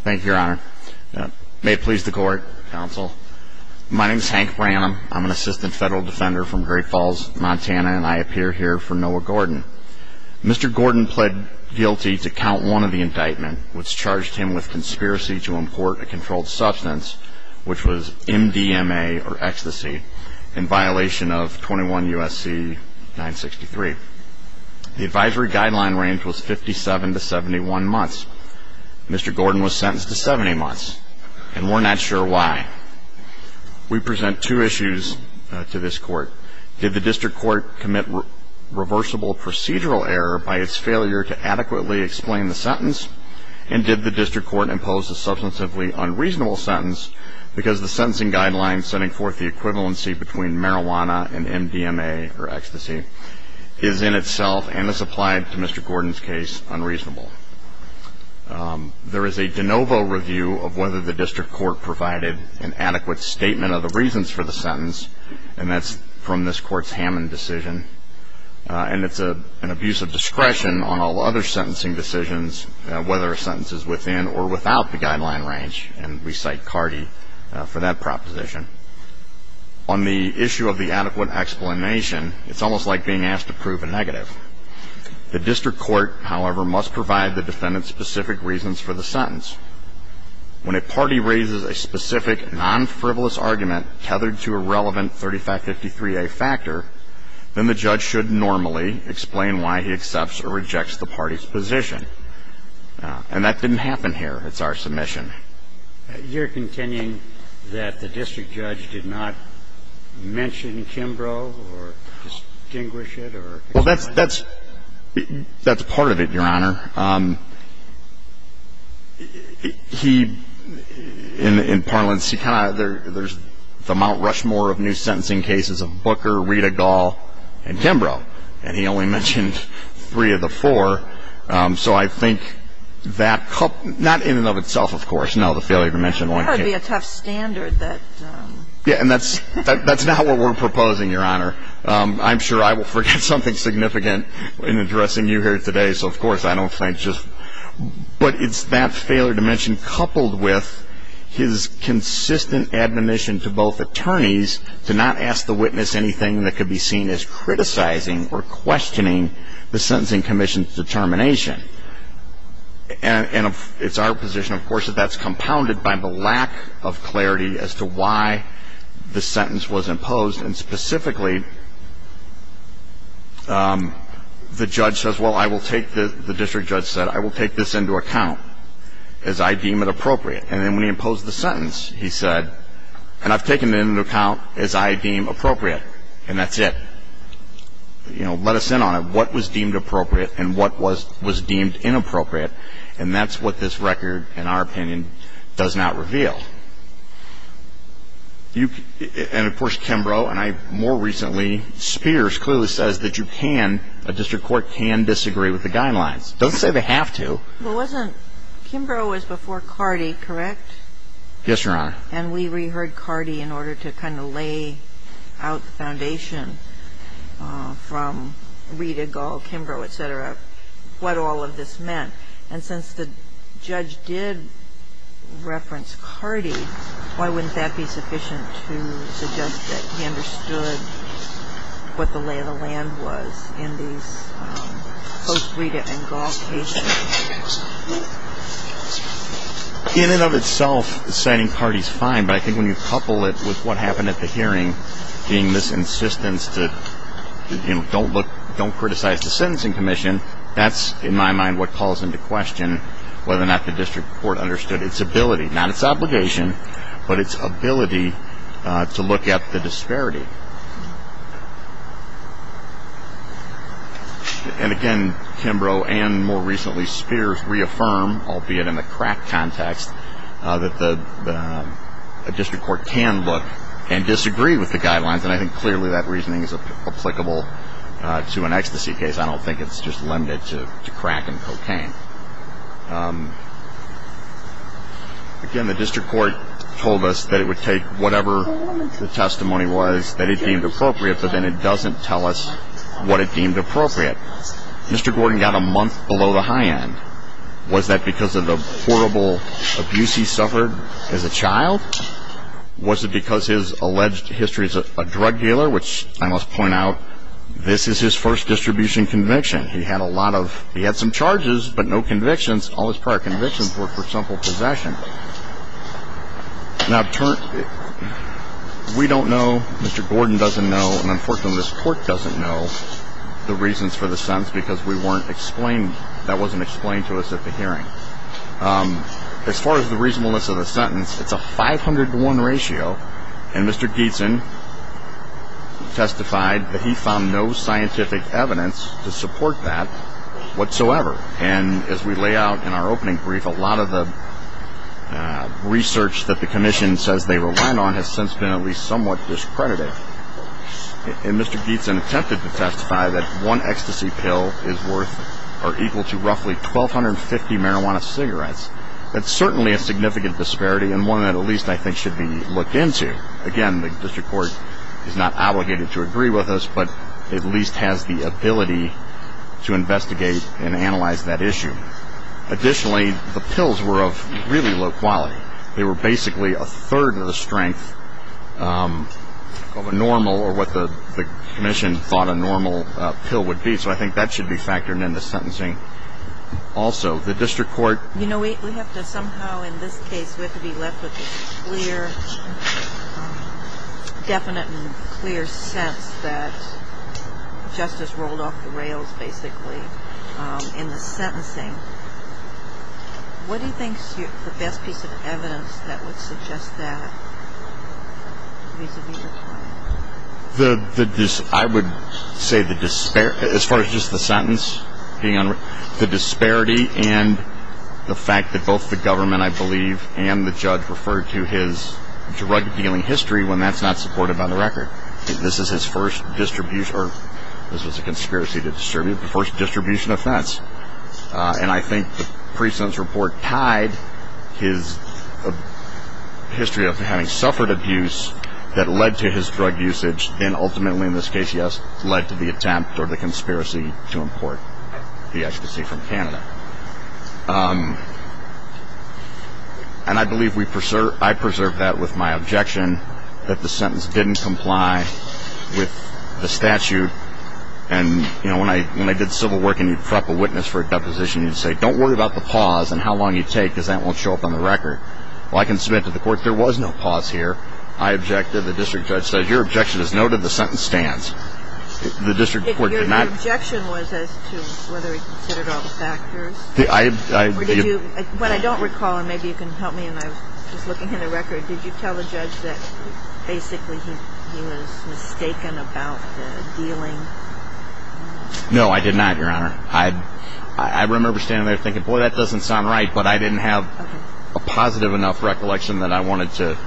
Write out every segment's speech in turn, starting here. Thank you, your honor. May it please the court, counsel. My name is Hank Branham. I'm an assistant federal defender from Great Falls, Montana, and I appear here for Noah Gordon. Mr. Gordon pled guilty to count one of the indictments, which charged him with conspiracy to import a controlled substance, which was MDMA or ecstasy, in violation of 21 U.S.C. 963. The advisory guideline range was 57 to 71 months. Mr. Gordon was sentenced to 70 months, and we're not sure why. We present two issues to this court. Did the district court commit reversible procedural error by its failure to adequately explain the sentence? And did the district court impose a substantively unreasonable sentence because the sentencing guideline setting forth the equivalency between marijuana and MDMA or ecstasy is in itself, and this applied to Mr. Gordon's case, unreasonable? There is a de novo review of whether the district court provided an adequate statement of the reasons for the sentence, and that's from this court's Hammond decision. And it's an abuse of discretion on all other sentencing decisions, whether a sentence is within or without the guideline range, and we cite Carty for that proposition. On the issue of the adequate explanation, it's almost like being asked to prove a negative. The district court, however, must provide the defendant specific reasons for the sentence. When a party raises a specific non-frivolous argument tethered to a relevant 3553A factor, then the judge should normally explain why he accepts or rejects the party's position. And that didn't happen here. It's our submission. You're contending that the district judge did not mention Kimbrough or distinguish it or? Well, that's part of it, Your Honor. He, in parlance, he kind of, there's the Mount Rushmore of new sentencing cases of Booker, Rita Gall, and Kimbrough, and he only mentioned three of the four. So I think that, not in and of itself, of course, no, the failure to mention one case. That would be a tough standard that. Yeah, and that's not what we're proposing, Your Honor. I'm sure I will forget something significant in addressing you here today, so, of course, I don't think just. But it's that failure to mention coupled with his consistent admonition to both attorneys to not ask the witness anything that could be seen as criticizing or questioning the sentencing commission's determination. And it's our position, of course, that that's compounded by the lack of clarity as to why the sentence was imposed. And specifically, the judge says, well, I will take the, the district judge said, I will take this into account as I deem it appropriate. And then when he imposed the sentence, he said, and I've taken it into account as I deem appropriate. And that's it. You know, let us in on it. What was deemed appropriate and what was deemed inappropriate? And that's what this record, in our opinion, does not reveal. And, of course, Kimbrough and I more recently, Spears clearly says that you can, a district court can disagree with the guidelines. It doesn't say they have to. Well, wasn't, Kimbrough was before Cardi, correct? Yes, Your Honor. And we reheard Cardi in order to kind of lay out the foundation from Rita, Gall, Kimbrough, et cetera, what all of this meant. And since the judge did reference Cardi, why wouldn't that be sufficient to suggest that he understood what the lay of the land was in these post-Rita and Gall cases? In and of itself, citing Cardi is fine, but I think when you couple it with what happened at the hearing being this insistence that, you know, don't look, don't criticize the sentencing commission, that's in my mind what calls into question whether or not the district court understood its ability, not its obligation, but its ability to look at the disparity. And again, Kimbrough and more recently Spears reaffirm, albeit in the crack context, that the district court can look and disagree with the guidelines, and I think clearly that reasoning is applicable to an ecstasy case. I don't think it's just limited to crack and cocaine. Again, the district court told us that it would take whatever the testimony was, that it deemed appropriate, but then it doesn't tell us what it deemed appropriate. Mr. Gordon got a month below the high end. Was that because of the horrible abuse he suffered as a child? Was it because his alleged history as a drug dealer, which I must point out, this is his first distribution conviction. He had some charges but no convictions. All his prior convictions were for simple possession. Now, we don't know, Mr. Gordon doesn't know, and unfortunately this court doesn't know the reasons for the sentence because that wasn't explained to us at the hearing. As far as the reasonableness of the sentence, it's a 500 to 1 ratio, and Mr. Geetson testified that he found no scientific evidence to support that whatsoever. And as we lay out in our opening brief, a lot of the research that the commission says they rely on has since been at least somewhat discredited. And Mr. Geetson attempted to testify that one ecstasy pill is worth or equal to roughly 1,250 marijuana cigarettes. That's certainly a significant disparity and one that at least I think should be looked into. Again, the district court is not obligated to agree with us, but at least has the ability to investigate and analyze that issue. Additionally, the pills were of really low quality. They were basically a third of the strength of a normal or what the commission thought a normal pill would be, so I think that should be factored into sentencing also. The district court- You know, we have to somehow in this case we have to be left with this clear, definite and clear sense that justice rolled off the rails basically in the sentencing. What do you think is the best piece of evidence that would suggest that vis-à-vis the client? I would say as far as just the sentence, the disparity and the fact that both the government, I believe, and the judge referred to his drug-dealing history when that's not supported by the record. This is his first distribution or this was a conspiracy to distribute the first distribution offense. And I think the precinct's report tied his history of having suffered abuse that led to his drug usage and ultimately in this case, yes, led to the attempt or the conspiracy to import the ecstasy from Canada. And I believe I preserved that with my objection that the sentence didn't comply with the statute. And, you know, when I did civil work and you'd prop a witness for a deposition, you'd say don't worry about the pause and how long you take because that won't show up on the record. Well, I can submit to the court there was no pause here. I objected. The district judge said your objection is noted. The sentence stands. The district court did not- Your objection was as to whether he considered all the factors? I- Or did you- What I don't recall, and maybe you can help me, and I was just looking at the record, did you tell the judge that basically he was mistaken about the dealing? No, I did not, Your Honor. I remember standing there thinking, boy, that doesn't sound right, but I didn't have a positive enough recollection that I wanted to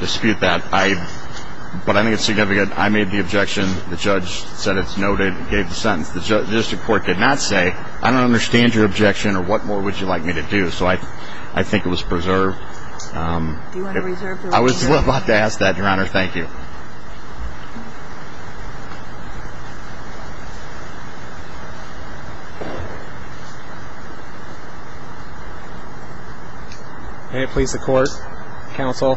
dispute that. But I think it's significant. I made the objection. The judge said it's noted and gave the sentence. The district court did not say I don't understand your objection or what more would you like me to do. So I think it was preserved. Do you want to reserve the record? I was about to ask that, Your Honor. Thank you. May it please the court, counsel,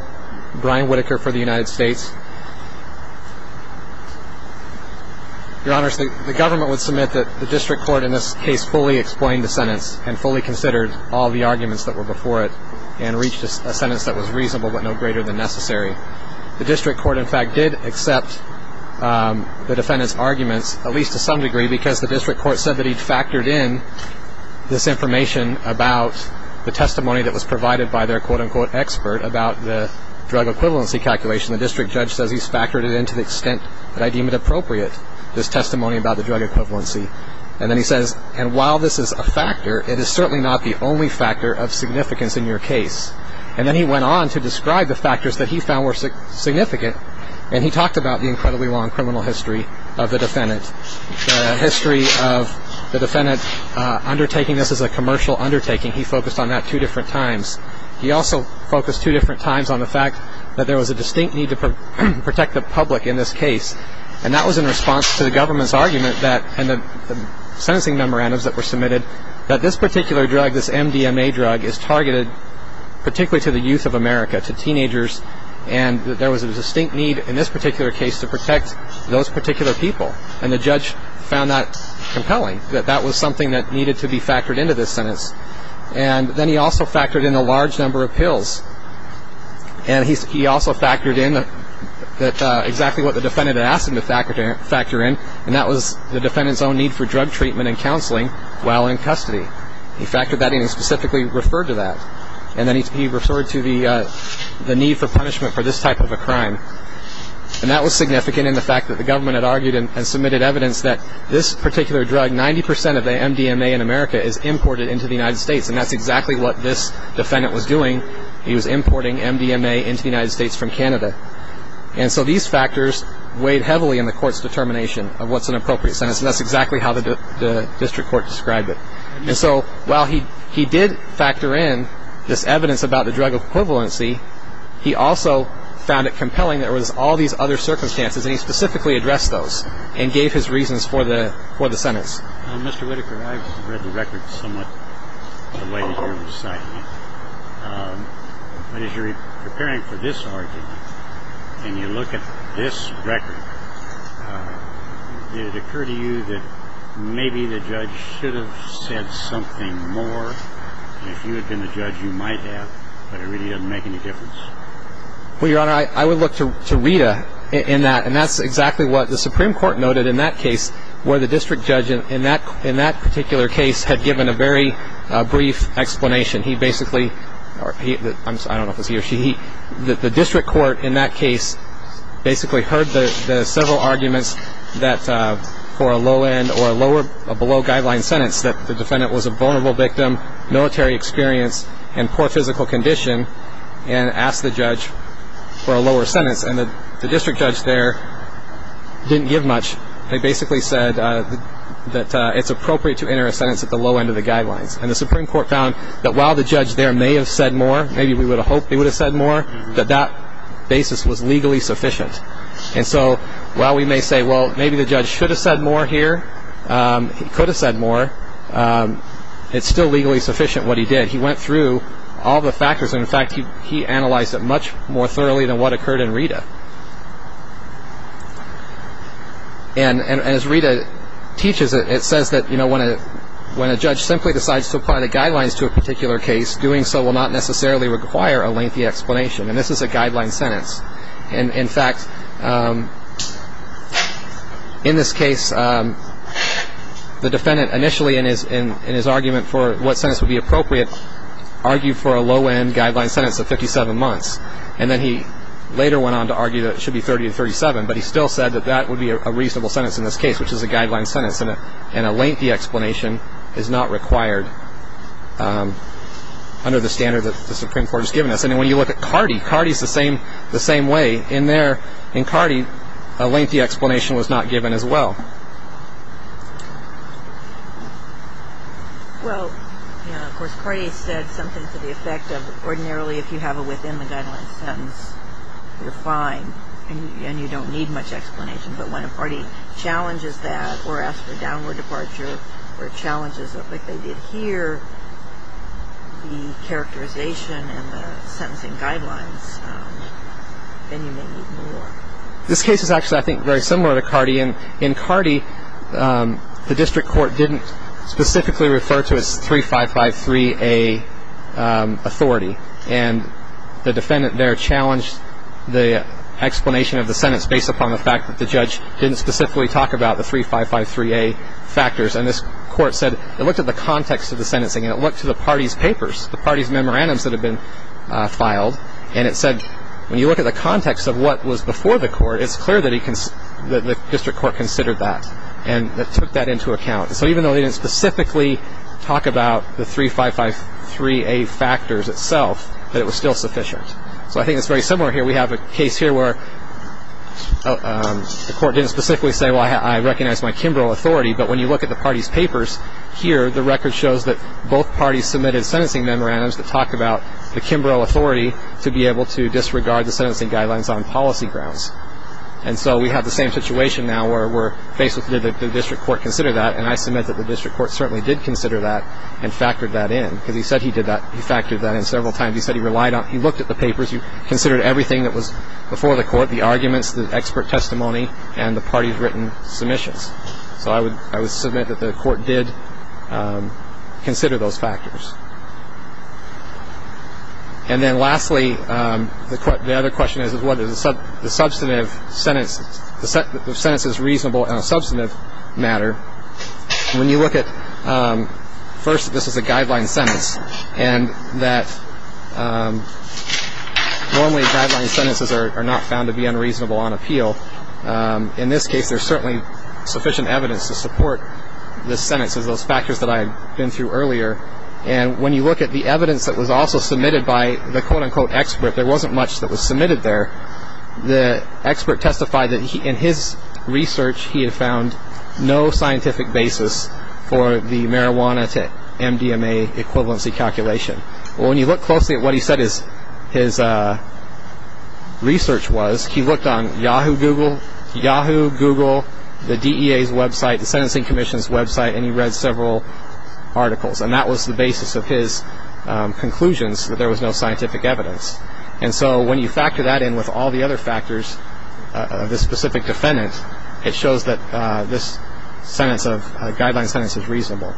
Brian Whitaker for the United States. Your Honor, the government would submit that the district court in this case fully explained the sentence and fully considered all the arguments that were before it and reached a sentence that was reasonable but no greater than necessary. The district court, in fact, did accept the defendant's arguments, at least to some degree, because the district court said that he'd factored in this information about the testimony that was provided by their quote-unquote expert about the drug equivalency calculation. The district judge says he's factored it in to the extent that I deem it appropriate, this testimony about the drug equivalency. And then he says, and while this is a factor, it is certainly not the only factor of significance in your case. And then he went on to describe the factors that he found were significant, and he talked about the incredibly long criminal history of the defendant, the history of the defendant undertaking this as a commercial undertaking. He focused on that two different times. He also focused two different times on the fact that there was a distinct need to protect the public in this case, and that was in response to the government's argument and the sentencing memorandums that were submitted that this particular drug, this MDMA drug, is targeted particularly to the youth of America, to teenagers, and that there was a distinct need in this particular case to protect those particular people. And the judge found that compelling, that that was something that needed to be factored in to this sentence. And then he also factored in a large number of pills, and he also factored in exactly what the defendant had asked him to factor in, and that was the defendant's own need for drug treatment and counseling while in custody. He factored that in. He specifically referred to that. And then he referred to the need for punishment for this type of a crime. And that was significant in the fact that the government had argued and submitted evidence that this particular drug, 90 percent of the MDMA in America, is imported into the United States, and that's exactly what this defendant was doing. He was importing MDMA into the United States from Canada. And so these factors weighed heavily in the court's determination of what's an appropriate sentence, and that's exactly how the district court described it. And so while he did factor in this evidence about the drug equivalency, he also found it compelling there was all these other circumstances, and he specifically addressed those and gave his reasons for the sentence. Mr. Whitaker, I've read the record somewhat the way that you're reciting it, but as you're preparing for this argument and you look at this record, did it occur to you that maybe the judge should have said something more? If you had been the judge, you might have, but it really doesn't make any difference. Well, Your Honor, I would look to Rita in that, and that's exactly what the Supreme Court noted in that case, where the district judge in that particular case had given a very brief explanation. He basically, or I don't know if it was he or she, the district court in that case basically heard the several arguments that for a low-end or a below-guideline sentence that the defendant was a vulnerable victim, military experience, and poor physical condition, and asked the judge for a lower sentence. And the district judge there didn't give much. They basically said that it's appropriate to enter a sentence at the low end of the guidelines. And the Supreme Court found that while the judge there may have said more, maybe we would have hoped they would have said more, that that basis was legally sufficient. And so while we may say, well, maybe the judge should have said more here, he could have said more, it's still legally sufficient what he did. He went through all the factors, and, in fact, he analyzed it much more thoroughly than what occurred in Rita. And as Rita teaches it, it says that when a judge simply decides to apply the guidelines to a particular case, doing so will not necessarily require a lengthy explanation. And this is a guideline sentence. And, in fact, in this case, the defendant initially in his argument for what sentence would be appropriate argued for a low-end guideline sentence of 57 months. And then he later went on to argue that it should be 30 to 37, but he still said that that would be a reasonable sentence in this case, which is a guideline sentence. And a lengthy explanation is not required under the standard that the Supreme Court has given us. And when you look at Cardi, Cardi is the same way. In Cardi, a lengthy explanation was not given as well. Well, of course, Cardi said something to the effect of ordinarily if you have a within-the-guidelines sentence, you're fine and you don't need much explanation. But when a party challenges that or asks for a downward departure or challenges it like they did here, the characterization and the sentencing guidelines, then you may need more. This case is actually, I think, very similar to Cardi. In Cardi, the district court didn't specifically refer to its 3553A authority. And the defendant there challenged the explanation of the sentence based upon the fact that the judge didn't specifically talk about the 3553A factors. And this court said it looked at the context of the sentencing and it looked to the party's papers, the party's memorandums that had been filed, and it said when you look at the context of what was before the court, it's clear that the district court considered that and took that into account. So even though they didn't specifically talk about the 3553A factors itself, it was still sufficient. So I think it's very similar here. We have a case here where the court didn't specifically say, well, I recognize my Kimbrough authority. But when you look at the party's papers here, the record shows that both parties submitted sentencing memorandums that talk about the Kimbrough authority to be able to disregard the sentencing guidelines on policy grounds. And so we have the same situation now where we're faced with did the district court consider that, and I submit that the district court certainly did consider that and factored that in. Because he said he did that. He factored that in several times. He said he relied on it. He looked at the papers. He considered everything that was before the court, the arguments, the expert testimony, and the party's written submissions. So I would submit that the court did consider those factors. And then lastly, the other question is, what is the substantive sentence? The sentence is reasonable on a substantive matter. When you look at, first, this is a guideline sentence, and that normally guideline sentences are not found to be unreasonable on appeal. In this case, there's certainly sufficient evidence to support the sentence as those factors that I had been through earlier. And when you look at the evidence that was also submitted by the, quote-unquote, expert, there wasn't much that was submitted there, the expert testified that in his research he had found no scientific basis for the marijuana to MDMA equivalency calculation. Well, when you look closely at what he said his research was, he looked on Yahoo, Google, Yahoo, Google, the DEA's website, the Sentencing Commission's website, and he read several articles. And that was the basis of his conclusions, that there was no scientific evidence. And so when you factor that in with all the other factors of the specific defendant, it shows that this guideline sentence is reasonable.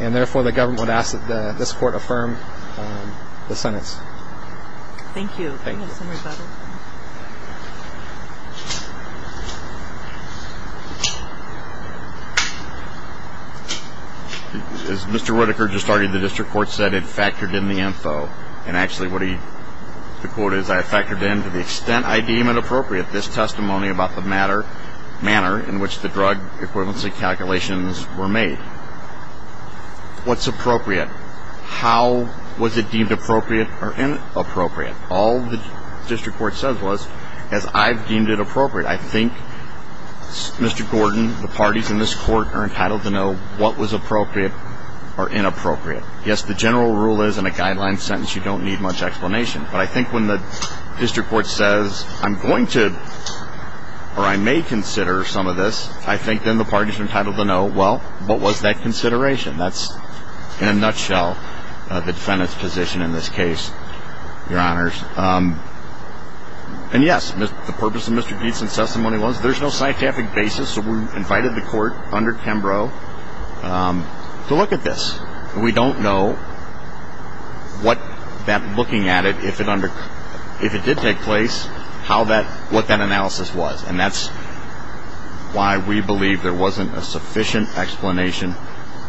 And, therefore, the government would ask that this Court affirm the sentence. Thank you. Thank you. As Mr. Whitaker just argued, the district court said it factored in the info. And, actually, what he, the quote is, I factored in, to the extent I deem it appropriate, this testimony about the manner in which the drug equivalency calculations were made. What's appropriate? How was it deemed appropriate or inappropriate? All the district court says was, as I've deemed it appropriate, I think, Mr. Gordon, the parties in this Court are entitled to know what was appropriate or inappropriate. Yes, the general rule is in a guideline sentence you don't need much explanation. But I think when the district court says, I'm going to, or I may consider some of this, I think then the parties are entitled to know, well, what was that consideration? That's, in a nutshell, the defendant's position in this case, Your Honors. And, yes, the purpose of Mr. Dietzen's testimony was there's no scientific basis, so we invited the Court under Kimbrough to look at this. We don't know, looking at it, if it did take place, what that analysis was. And that's why we believe there wasn't a sufficient explanation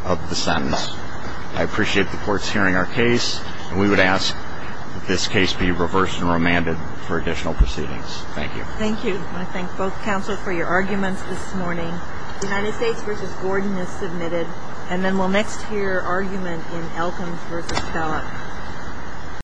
of the sentence. I appreciate the courts hearing our case, and we would ask that this case be reversed and remanded for additional proceedings. Thank you. Thank you. I want to thank both counsel for your arguments this morning. The United States v. Gordon is submitted. And then we'll next hear argument in Elkins v. Kellogg.